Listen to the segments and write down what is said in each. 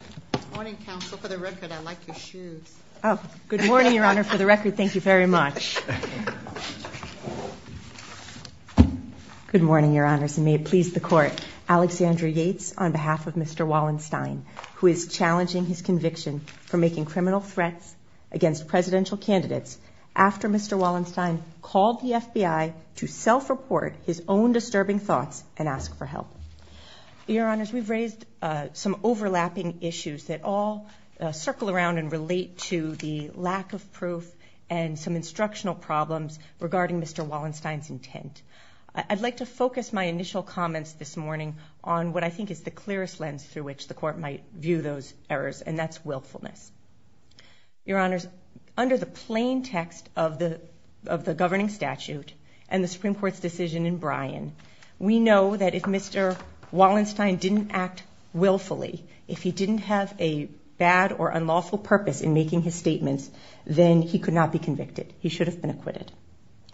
Good morning, Your Honors, and may it please the Court, Alexandra Yates, on behalf of Mr. Wallenstein, who is challenging his conviction for making criminal threats against presidential candidates after Mr. Wallenstein called the FBI to self-report his own disturbing thoughts and ask for help. Your Honors, we've raised some overlapping issues that all circle around and relate to the lack of proof and some instructional problems regarding Mr. Wallenstein's intent. I'd like to focus my initial comments this morning on what I think is the clearest lens through which the Court might view those errors, and that's willfulness. Your Honors, under the plain text of the governing statute and the Supreme Court's decision in 2012, Wallenstein didn't act willfully. If he didn't have a bad or unlawful purpose in making his statements, then he could not be convicted. He should have been acquitted.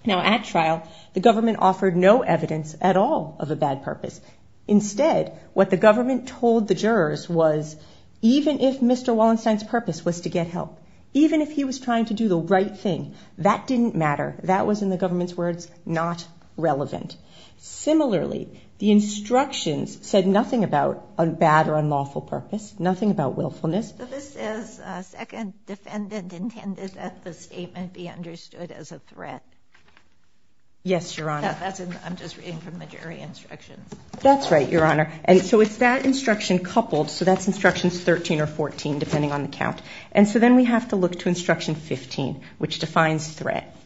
Now, at trial, the government offered no evidence at all of a bad purpose. Instead, what the government told the jurors was, even if Mr. Wallenstein's purpose was to get help, even if he was trying to do the right thing, that didn't matter. That was, in the government's words, not relevant. Similarly, the instructions said nothing about a bad or unlawful purpose, nothing about willfulness. So this says, second defendant intended that the statement be understood as a threat. Yes, Your Honor. I'm just reading from the jury instructions. That's right, Your Honor. And so it's that instruction coupled, so that's instructions 13 or 14, depending on the count. And so then we have to look to instruction 15, which defines threat.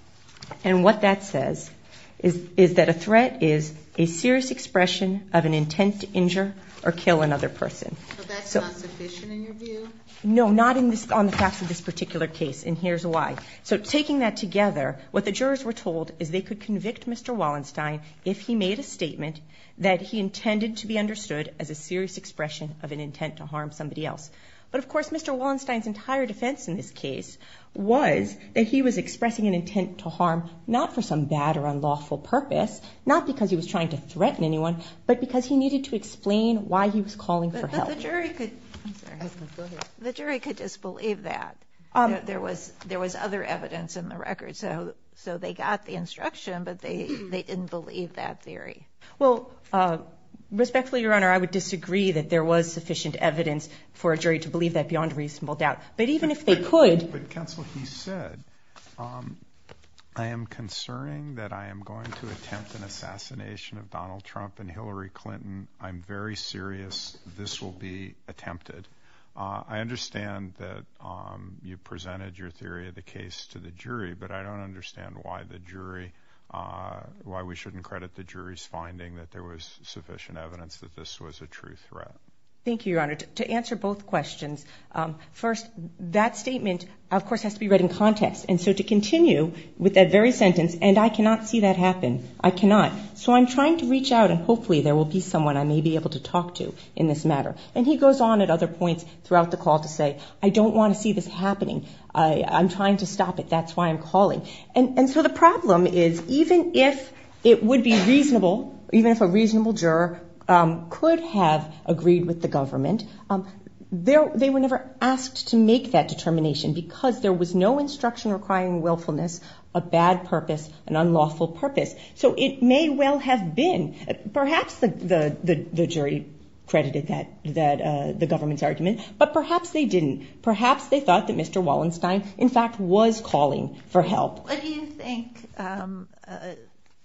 And what that says is that a threat is a serious expression of an intent to injure or kill another person. So that's not sufficient in your view? No, not on the facts of this particular case, and here's why. So taking that together, what the jurors were told is they could convict Mr. Wallenstein if he made a statement that he intended to be understood as a serious expression of an intent to harm somebody else. But of course, Mr. Wallenstein's entire defense in this case was that he was expressing an intent to harm, not for some bad or unlawful purpose, not because he was trying to threaten anyone, but because he needed to explain why he was calling for help. The jury could disbelieve that. There was other evidence in the record. So they got the instruction, but they didn't believe that theory. Well, respectfully, Your Honor, I would disagree that there was sufficient evidence for a jury to believe that beyond reasonable doubt. But even if they could... But counsel, he said, I am concerning that I am going to attempt an assassination of Donald Trump and Hillary Clinton. I'm very serious this will be attempted. I understand that you presented your theory of the case to the jury, but I don't understand why the jury, why we shouldn't credit the jury's finding that there was sufficient evidence that this was a true threat. Thank you, Your Honor. To answer both questions, first, that statement, of course, has to be read in context. And so to continue with that very sentence, and I cannot see that happen. I cannot. So I'm trying to reach out and hopefully there will be someone I may be able to talk to in this matter. And he goes on at other points throughout the call to say, I don't want to see this happening. I'm trying to stop it. That's why I'm calling. And so the problem is, even if it would be reasonable, even if a reasonable juror could have agreed with the government, they were never asked to make that determination because there was no instruction requiring willfulness, a bad purpose, an unlawful purpose. So it may well have been, perhaps the jury credited that, the government's argument, but perhaps they didn't. Perhaps they thought that Mr. Wallenstein, in fact, was calling for help. What do you think the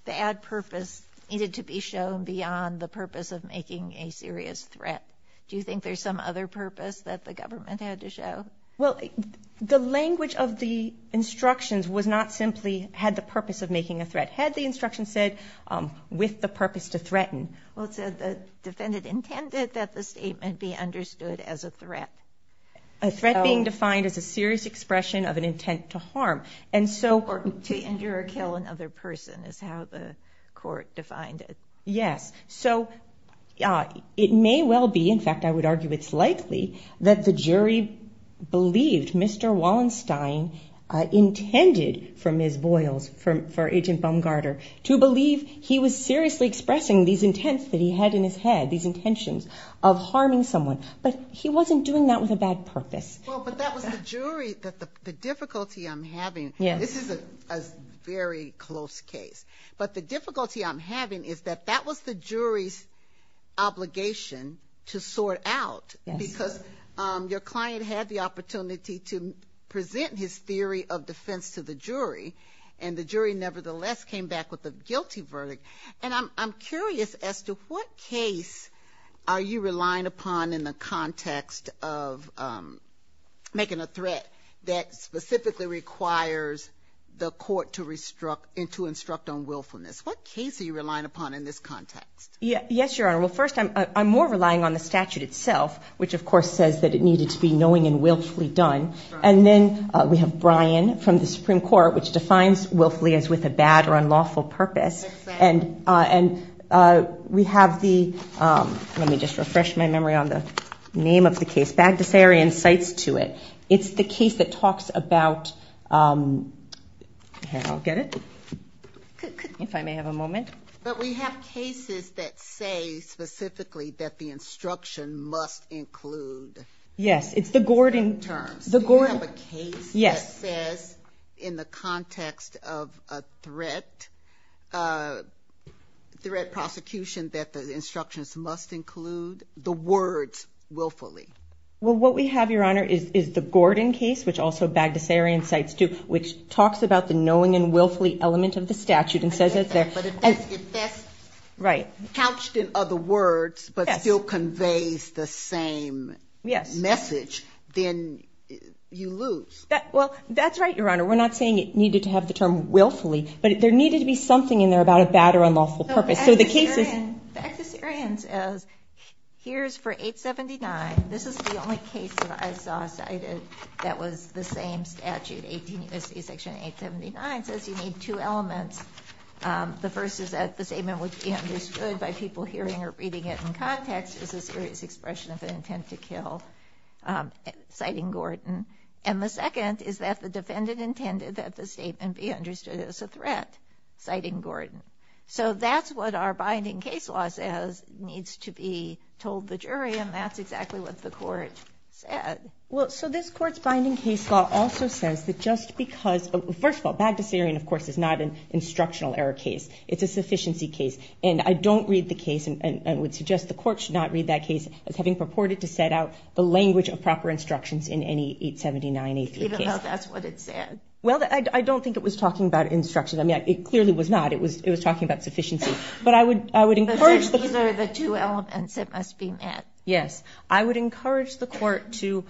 bad purpose needed to be shown beyond the purpose of making a serious threat? Do you think there's some other purpose that the government had to show? Well, the language of the instructions was not simply, had the purpose of making a threat. Had the instruction said, with the purpose to threaten. Well, it said the defendant intended that the statement be understood as a threat. Or to injure or kill another person, is how the court defined it. Yes. So it may well be, in fact, I would argue it's likely, that the jury believed Mr. Wallenstein intended for Ms. Boyles, for Agent Baumgarter, to believe he was seriously expressing these intents that he had in his head, these intentions of harming someone. But he wasn't doing that with a bad purpose. Well, but that was the jury, that the difficulty I'm having, this is a very close case. But the difficulty I'm having is that that was the jury's obligation to sort out. Because your client had the opportunity to present his theory of defense to the jury, and the jury nevertheless came back with a guilty verdict. And I'm curious as to what case are you relying upon in the context of making a threat that specifically requires the court to instruct on willfulness? What case are you relying upon in this context? Yes, Your Honor. Well, first, I'm more relying on the statute itself, which of course says that it needed to be knowing and willfully done. And then we have Bryan from the Supreme Court, which defines willfully as with a bad or unlawful purpose. Exactly. And we have the, let me just refresh my memory on the name of the case, Bagdasarian cites to it. It's the case that talks about, here, I'll get it, if I may have a moment. But we have cases that say, specifically, that the instruction must include. Yes, it's the Gordon. The Gordon. And then we have a case that says, in the context of a threat, a threat prosecution that the instructions must include the words willfully. Well, what we have, Your Honor, is the Gordon case, which also Bagdasarian cites to, which talks about the knowing and willfully element of the statute and says that there. But if that's couched in other words, but still conveys the same message, then you lose. Well, that's right, Your Honor. We're not saying it needed to have the term willfully, but there needed to be something in there about a bad or unlawful purpose. So the case is. No, Bagdasarian says, here's for 879, this is the only case that I saw cited that was the same statute, 18 U.S.C. section 879, says you need two elements. The first is that the statement would be understood by people hearing or reading it in context is a serious expression of an intent to kill, citing Gordon. And the second is that the defendant intended that the statement be understood as a threat, citing Gordon. So that's what our binding case law says needs to be told the jury, and that's exactly what the court said. Well, so this court's binding case law also says that just because, first of all, Bagdasarian, of course, is not an instructional error case. It's a sufficiency case. And I don't read the case, and I would suggest the court should not read that case as having purported to set out the language of proper instructions in any 879-83 case. Even though that's what it said. Well, I don't think it was talking about instructions. I mean, it clearly was not. It was talking about sufficiency. But I would encourage. But these are the two elements that must be met. Yes. I would encourage the court to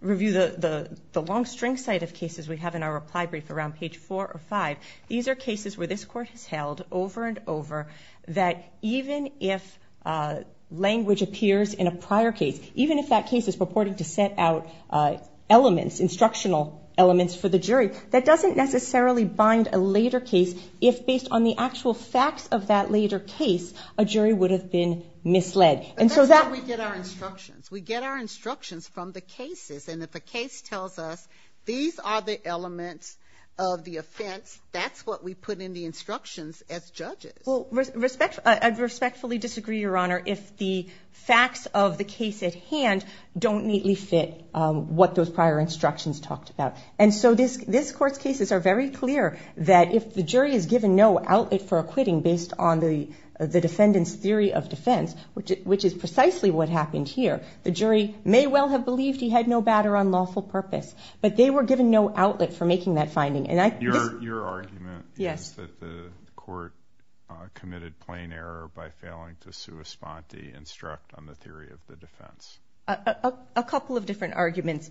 review the long string cite of cases we have in our reply brief around page four or five. These are cases where this court has held over and over that even if language appears in a prior case, even if that case is purported to set out elements, instructional elements for the jury, that doesn't necessarily bind a later case if based on the actual facts of that later case, a jury would have been misled. And so that's where we get our instructions. We get our instructions from the cases, and if a case tells us these are the elements of the offense, that's what we put in the instructions as judges. Well, I'd respectfully disagree, Your Honor, if the facts of the case at hand don't neatly fit what those prior instructions talked about. And so this court's cases are very clear that if the jury is given no outlet for acquitting based on the defendant's theory of defense, which is precisely what happened here, the jury may well have believed he had no bad or unlawful purpose, but they were given no outlet for that finding. Your argument is that the court committed plain error by failing to sui sponte instruct on the theory of the defense. A couple of different arguments.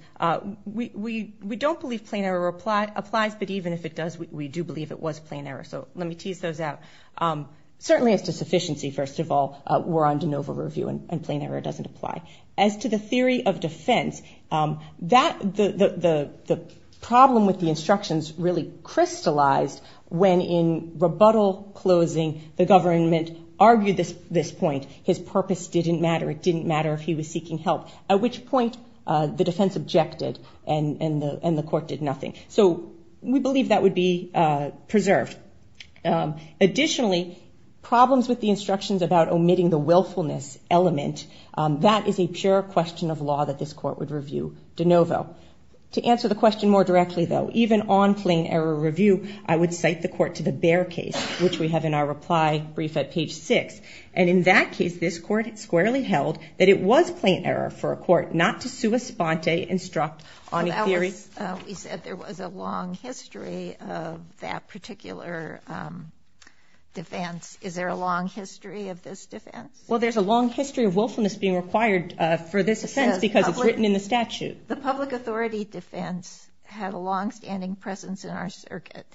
We don't believe plain error applies, but even if it does, we do believe it was plain error. So let me tease those out. Certainly, as to sufficiency, first of all, we're on de novo review, and plain error doesn't apply. As to the theory of defense, the problem with the instructions really crystallized when in rebuttal closing, the government argued this point. His purpose didn't matter. It didn't matter if he was seeking help, at which point the defense objected and the court did nothing. So we believe that would be preserved. Additionally, problems with the instructions about omitting the willfulness element, that is a pure question of law that this court would review de novo. To answer the question more directly, though, even on plain error review, I would cite the court to the Bair case, which we have in our reply brief at page six. And in that case, this court squarely held that it was plain error for a court not to sui sponte instruct on a theory. We said there was a long history of that particular defense. Is there a long history of this defense? Well, there's a long history of willfulness being required for this defense because it's written in the statute. The public authority defense had a longstanding presence in our circuit,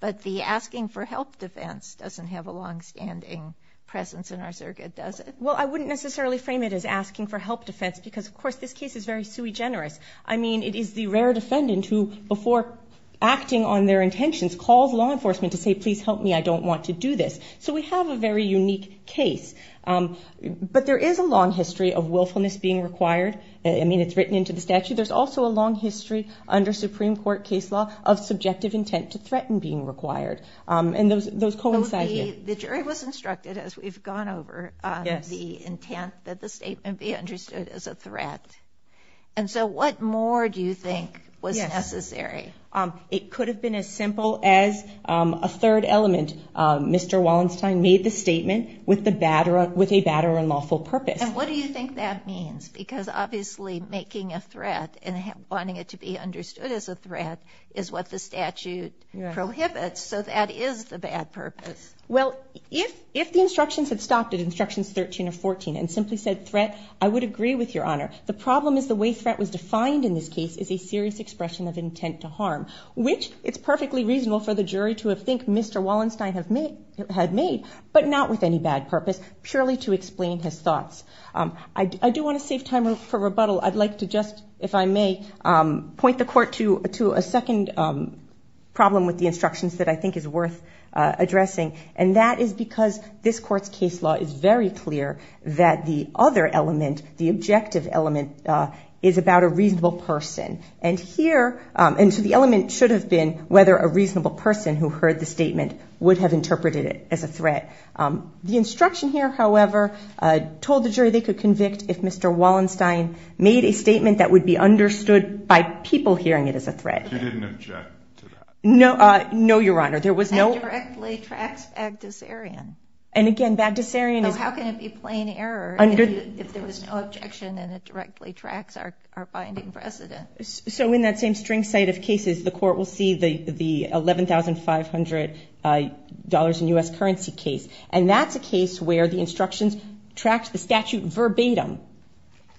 but the asking for help defense doesn't have a longstanding presence in our circuit, does it? Well, I wouldn't necessarily frame it as asking for help defense because, of course, this case is very sui generis. I mean, it is the rare defendant who, before acting on their intentions, calls law enforcement to say, please help me. I don't want to do this. So we have a very unique case. But there is a long history of willfulness being required. I mean, it's written into the statute. There's also a long history under Supreme Court case law of subjective intent to threaten being required. And those coincide here. The jury was instructed, as we've gone over, the intent that the statement be understood as a threat. And so what more do you think was necessary? It could have been as simple as a third element. Mr. Wallenstein made the statement with a bad or unlawful purpose. And what do you think that means? Because obviously making a threat and wanting it to be understood as a threat is what the statute prohibits. So that is the bad purpose. Well, if the instructions had stopped at instructions 13 or 14 and simply said threat, I would agree with Your Honor. The problem is the way threat was defined in this case is a serious expression of intent to harm, which it's perfectly reasonable for the jury to think Mr. Wallenstein had made, but not with any bad purpose, purely to explain his thoughts. I do want to save time for rebuttal. I'd like to just, if I may, point the court to a second problem with the instructions that I think is worth addressing. And that is because this court's case law is very clear that the other element, the objective element, is about a reasonable person. And here, and so the element should have been whether a reasonable person who heard the statement would have interpreted it as a threat. The instruction here, however, told the jury they could convict if Mr. Wallenstein made a statement that would be understood by people hearing it as a threat. But you didn't object to that. No, Your Honor. There was no- That directly tracks Bagdasarian. And again, Bagdasarian is- So how can it be plain error if there was no objection and it directly tracks our finding precedent? So in that same string site of cases, the court will see the $11,500 in U.S. currency case. And that's a case where the instructions tracked the statute verbatim.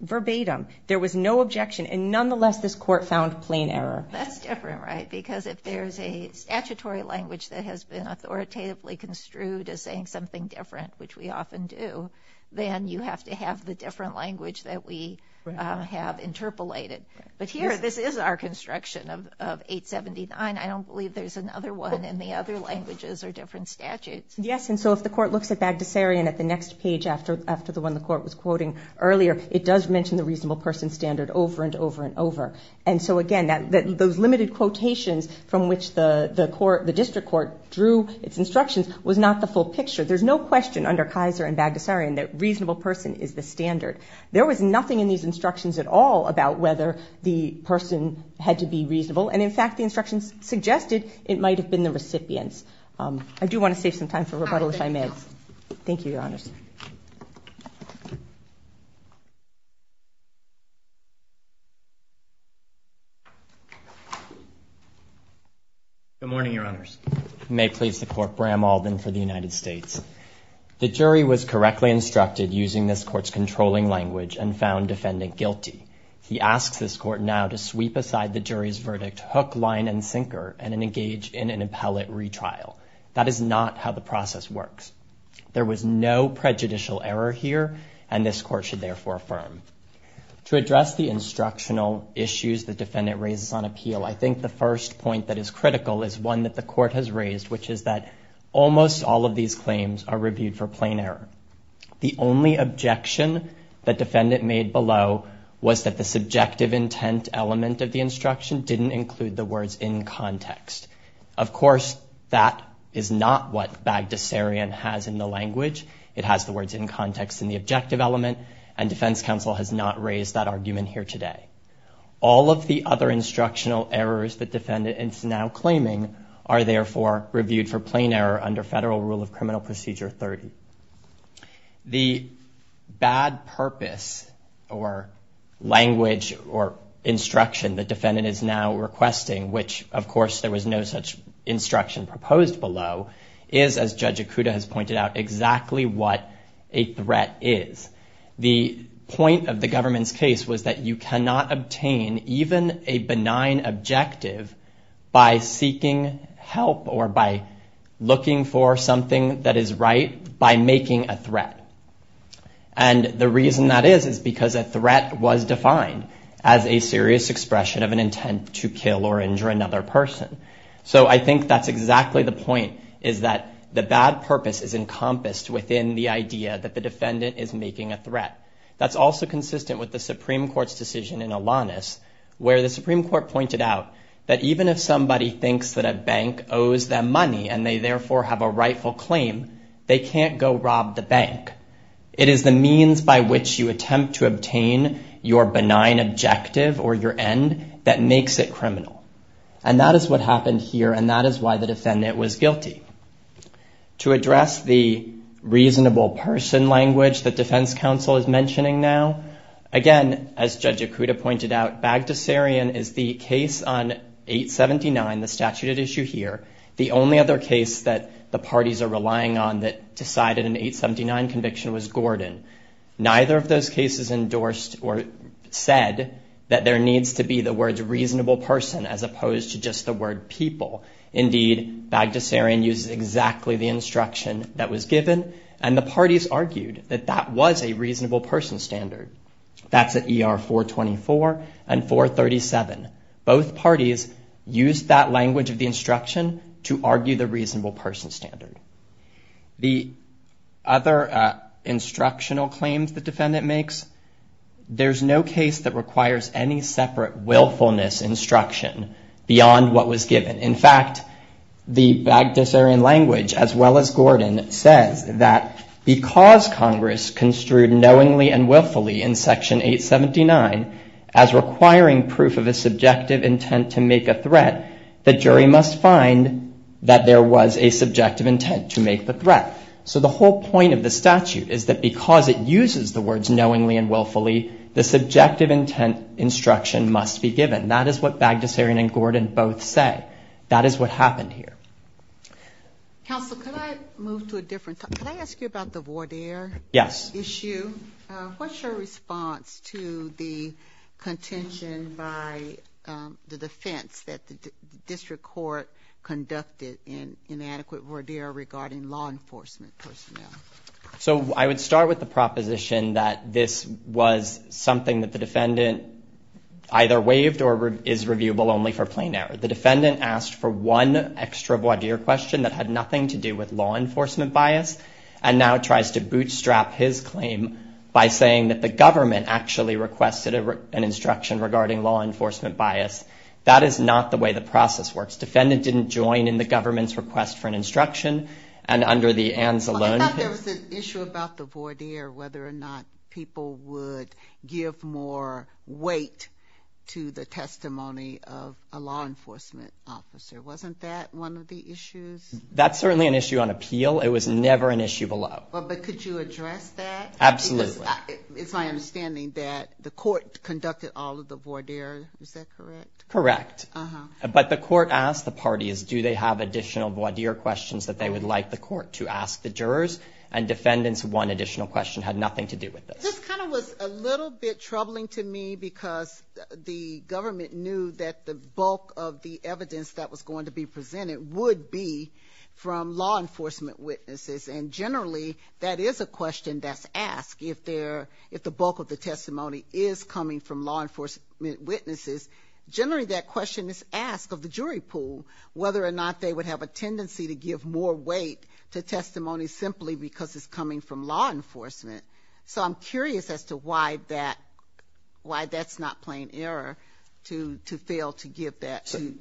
Verbatim. There was no objection. And nonetheless, this court found plain error. That's different, right? Because if there's a statutory language that has been authoritatively construed as saying something different, which we often do, then you have to have the different language that we have interpolated. But here, this is our construction of 879. I don't believe there's another one in the other languages or different statutes. Yes. And so if the court looks at Bagdasarian at the next page after the one the court was quoting earlier, it does mention the reasonable person standard over and over and over. And so again, those limited quotations from which the district court drew its instructions was not the full picture. There's no question under Kaiser and Bagdasarian that reasonable person is the standard. There was nothing in these instructions at all about whether the person had to be reasonable. And in fact, the instructions suggested it might have been the recipients. I do want to save some time for rebuttal if I may. Thank you, Your Honors. Good morning, Your Honors. May it please the Court. Bram Alden for the United States. The jury was correctly instructed using this court's controlling language and found defendant guilty. He asks this court now to sweep aside the jury's verdict, hook, line, and sinker, and engage in an appellate retrial. That is not how the process works. There was no prejudicial error here, and this court should therefore affirm. To address the instructional issues the defendant raises on appeal, I think the first point that is critical is one that the court has raised, which is that almost all of these claims are reviewed for plain error. The only objection that defendant made below was that the subjective intent element of the instruction didn't include the words in context. Of course, that is not what Bagdasarian has in the language. It has the words in context in the objective element, and defense counsel has not raised that argument here today. All of the other instructional errors the defendant is now claiming are therefore reviewed for plain error under Federal Rule of Criminal Procedure 30. The bad purpose or language or instruction the defendant is now requesting, which of course there was no such instruction proposed below, is, as Judge Ikuda has pointed out, exactly what a threat is. The point of the government's case was that you cannot obtain even a benign objective by seeking help or by looking for something that is right by making a threat. And the reason that is is because a threat was defined as a serious expression of an intent to kill or injure another person. So I think that's exactly the point, is that the bad purpose is encompassed within the idea that the defendant is making a threat. That's also consistent with the Supreme Court's decision in Alanis, where the Supreme Court pointed out that even if somebody thinks that a bank owes them money and they therefore have a rightful claim, they can't go rob the bank. It is the means by which you attempt to obtain your benign objective or your end that makes it criminal. And that is what happened here, and that is why the defendant was guilty. To address the reasonable person language that defense counsel is mentioning now, again, as Judge Ikuda pointed out, Bagdasarian is the case on 879, the statute at issue here. The only other case that the parties are relying on that decided an 879 conviction was Gordon. Neither of those cases endorsed or said that there needs to be the words reasonable person as opposed to just the word people. Indeed, Bagdasarian uses exactly the instruction that was given, and the parties argued that that was a reasonable person standard. That's at ER 424 and 437. Both parties used that language of the instruction to argue the reasonable person standard. The other instructional claims the defendant makes, there is no case that requires any separate willfulness instruction beyond what was given. In fact, the Bagdasarian language, as well as Gordon, says that because Congress construed knowingly and willfully in Section 879 as requiring proof of a subjective intent to make a threat, the jury must find that there was a subjective intent to make the threat. So the whole point of the statute is that because it uses the words knowingly and willfully, the subjective intent instruction must be given. That is what Bagdasarian and Gordon both say. That is what happened here. Counsel, could I move to a different topic? Could I ask you about the voir dire issue? Yes. What's your response to the contention by the defense that the district court conducted in inadequate voir dire regarding law enforcement personnel? So I would start with the proposition that this was something that the defendant either waived or is reviewable only for plain error. The defendant asked for one extra voir dire question that had nothing to do with law enforcement bias, and now tries to bootstrap his claim by saying that the government actually requested an instruction regarding law enforcement bias. That is not the way the process works. Defendant didn't join in the government's request for an instruction, and under the ANZ alone... Well, I thought there was an issue about the voir dire, whether or not people would give more weight to the testimony of a law enforcement officer. Wasn't that one of the issues? That's certainly an issue on appeal. It was never an issue below. But could you address that? Absolutely. Because it's my understanding that the court conducted all of the voir dire. Is that correct? Correct. But the court asked the parties, do they have additional voir dire questions that they would like the court to ask the jurors? And defendants, one additional question had nothing to do with this. Well, this kind of was a little bit troubling to me because the government knew that the bulk of the evidence that was going to be presented would be from law enforcement witnesses. And generally, that is a question that's asked. If the bulk of the testimony is coming from law enforcement witnesses, generally that question is asked of the jury pool, whether or not they would have a tendency to give more weight to testimony simply because it's coming from law enforcement. So I'm curious as to why that's not plain error to fail to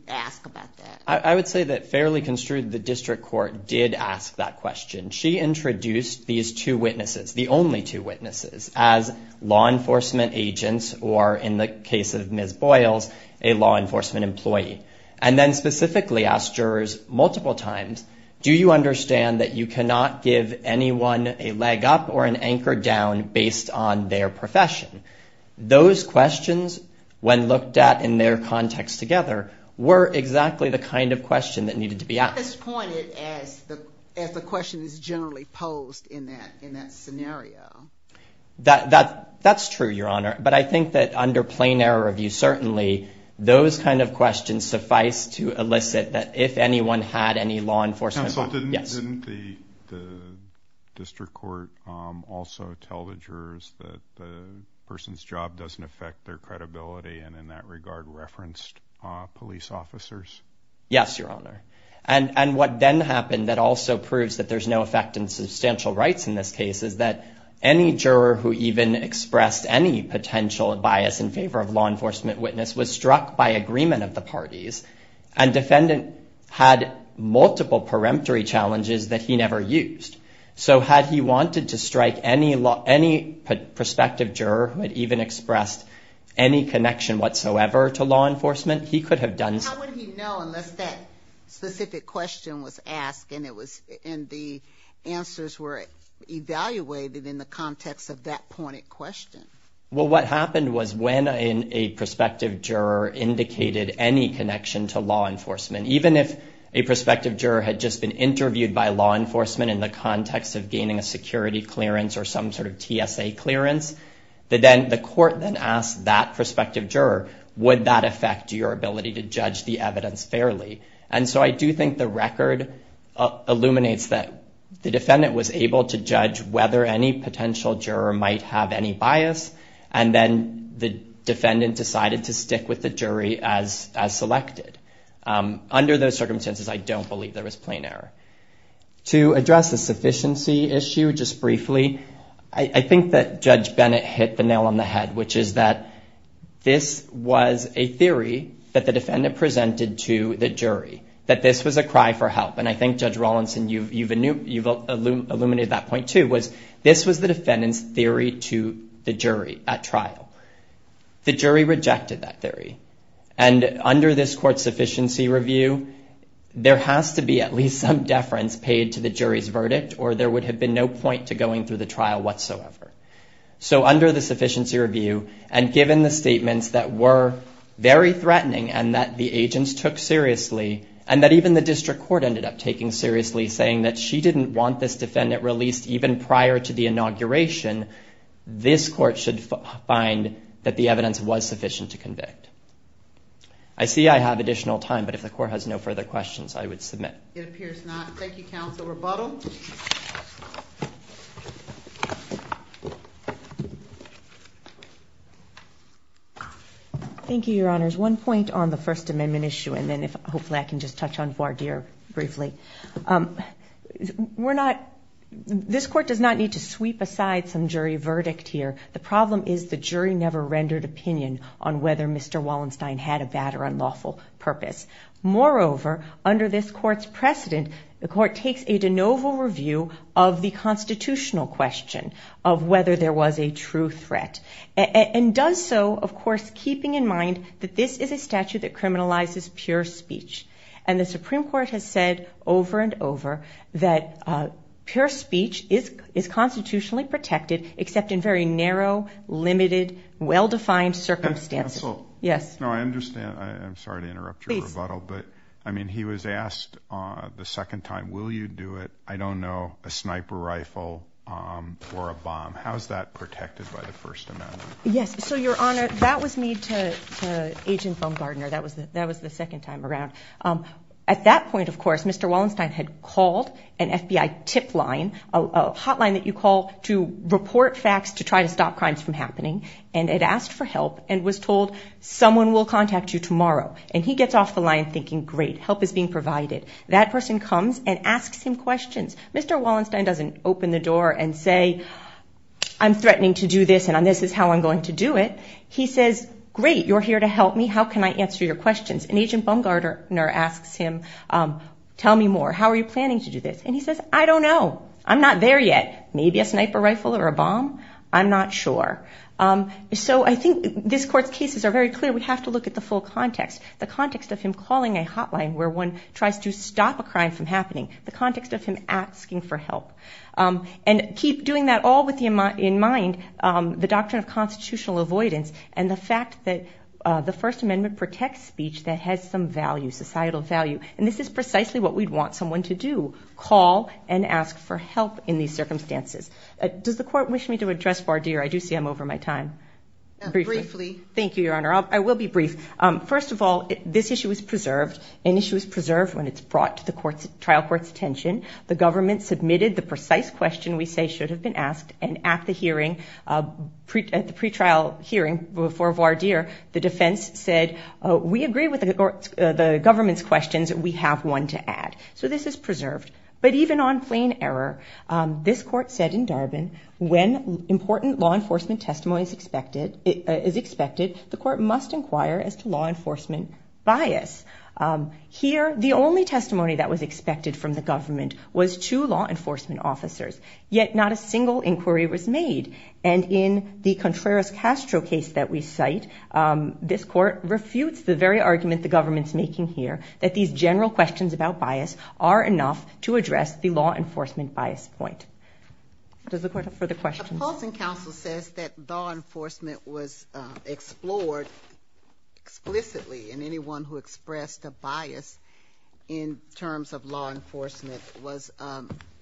ask about that. I would say that fairly construed, the district court did ask that question. She introduced these two witnesses, the only two witnesses, as law enforcement agents or, in the case of Ms. Boyles, a law enforcement employee. And then specifically asked jurors multiple times, do you understand that you cannot give anyone a leg up or an anchor down based on their profession? Those questions, when looked at in their context together, were exactly the kind of question that needed to be asked. It's pointed as the question is generally posed in that scenario. That's true, Your Honor. But I think that under plain error review, certainly, those kind of questions suffice to elicit that if anyone had any law enforcement. Counsel, didn't the district court also tell the jurors that the person's job doesn't affect their credibility and in that regard referenced police officers? Yes, Your Honor. And what then happened that also proves that there's no effect in substantial rights in this case is that any juror who even expressed any potential bias in favor of law enforcement witness was struck by agreement of the parties and defendant had multiple peremptory challenges that he never used. So had he wanted to strike any prospective juror who had even expressed any connection whatsoever to law enforcement, he could have done so. How would he know unless that specific question was asked and the answers were evaluated in the context of that pointed question? Well, what happened was when a prospective juror indicated any connection to law enforcement, even if a prospective juror had just been interviewed by law enforcement in the context of gaining a security clearance or some sort of TSA clearance, the court then asked that prospective juror, would that affect your ability to judge the evidence fairly? And so I do think the record illuminates that the defendant was able to judge whether any potential juror might have any bias, and then the defendant decided to stick with the jury as selected. Under those circumstances, I don't believe there was plain error. To address the sufficiency issue just briefly, I think that Judge Bennett hit the nail on the head, which is that this was a theory that the defendant presented to the jury, that this was a cry for help. And I think, Judge Rawlinson, you've illuminated that point too, was this was the defendant's theory to the jury at trial. The jury rejected that theory, and under this court's sufficiency review, there has to be at least some deference paid to the jury's verdict, or there would have been no point to going through the trial whatsoever. So under the sufficiency review, and given the statements that were very threatening and that the agents took seriously, and that even the district court ended up taking seriously, saying that she didn't want this defendant released even prior to the inauguration, this court should find that the evidence was sufficient to convict. I see I have additional time, but if the court has no further questions, I would submit. It appears not. Thank you, counsel. Rebuttal? Thank you, Your Honors. One point on the First Amendment issue, and then hopefully I can just touch on voir dire briefly. This court does not need to sweep aside some jury verdict here. The problem is the jury never rendered opinion on whether Mr. Wallenstein had a bad or unlawful purpose. Moreover, under this court's precedent, the court takes a de novo review of the constitutional question of whether there was a true threat, and does so, of course, keeping in mind that this is a statute that criminalizes pure speech. And the Supreme Court has said over and over that pure speech is constitutionally protected, except in very narrow, limited, well-defined circumstances. Counsel? Yes. No, I understand. I'm sorry to interrupt your rebuttal, but, I mean, he was asked the second time, will you do it, I don't know, a sniper rifle or a bomb? How is that protected by the First Amendment? Yes. So, Your Honor, that was made to Agent Baumgardner. That was the second time around. At that point, of course, Mr. Wallenstein had called an FBI tip line, a hotline that you call to report facts to try to stop crimes from happening, and had asked for help and was told, someone will contact you tomorrow. And he gets off the line thinking, great, help is being provided. That person comes and asks him questions. Mr. Wallenstein doesn't open the door and say, I'm threatening to do this, and this is how I'm going to do it. He says, great, you're here to help me, how can I answer your questions? And Agent Baumgardner asks him, tell me more, how are you planning to do this? And he says, I don't know, I'm not there yet. Maybe a sniper rifle or a bomb? I'm not sure. So I think this Court's cases are very clear. We have to look at the full context, the context of him calling a hotline where one tries to stop a crime from happening, the context of him asking for help. And keep doing that all with in mind the doctrine of constitutional avoidance and the fact that the First Amendment protects speech that has some value, societal value. And this is precisely what we'd want someone to do, call and ask for help in these circumstances. Does the Court wish me to address Vardir? I do see I'm over my time. Briefly. Thank you, Your Honor. I will be brief. First of all, this issue is preserved. An issue is preserved when it's brought to the trial court's attention. The government submitted the precise question we say should have been asked, and at the pre-trial hearing for Vardir, the defense said, we agree with the government's questions, we have one to add. So this is preserved. But even on plain error, this court said in Darbin, when important law enforcement testimony is expected, the court must inquire as to law enforcement bias. Here, the only testimony that was expected from the government was to law enforcement officers, yet not a single inquiry was made. And in the Contreras-Castro case that we cite, this court refutes the very argument the government's making here, that these general questions about bias are enough to address the law enforcement bias point. Does the court have further questions? The opposing counsel says that law enforcement was explored explicitly, and anyone who expressed a bias in terms of law enforcement was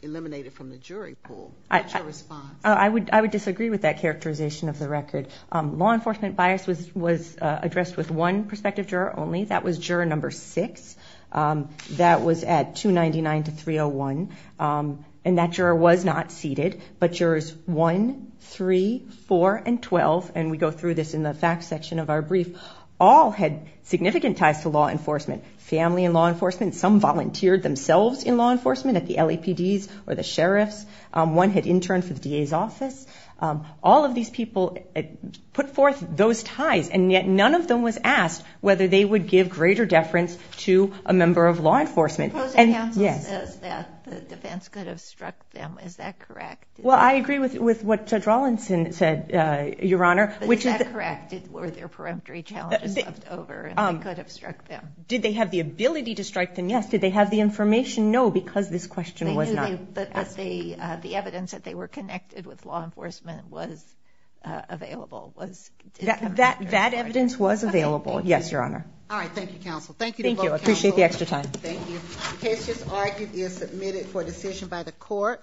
eliminated from the jury pool. What's your response? I would disagree with that characterization of the record. Law enforcement bias was addressed with one prospective juror only. That was juror number six. That was at 299 to 301. And that juror was not seated, but jurors one, three, four, and 12, and we go through this in the facts section of our brief, all had significant ties to law enforcement, family and law enforcement. Some volunteered themselves in law enforcement at the LAPDs or the sheriffs. One had interned for the DA's office. All of these people put forth those ties, and yet none of them was asked whether they would give greater deference to a member of law enforcement. The opposing counsel says that the defense could have struck them. Is that correct? Well, I agree with what Judge Rawlinson said, Your Honor. But is that correct? Were there peremptory challenges left over and they could have struck them? Did they have the ability to strike them? Yes. Did they have the information? No, because this question was not asked. But the evidence that they were connected with law enforcement was available. That evidence was available, yes, Your Honor. All right. Thank you, counsel. Thank you to both counsels. Thank you. I appreciate the extra time. Thank you. The case just argued is submitted for decision by the court.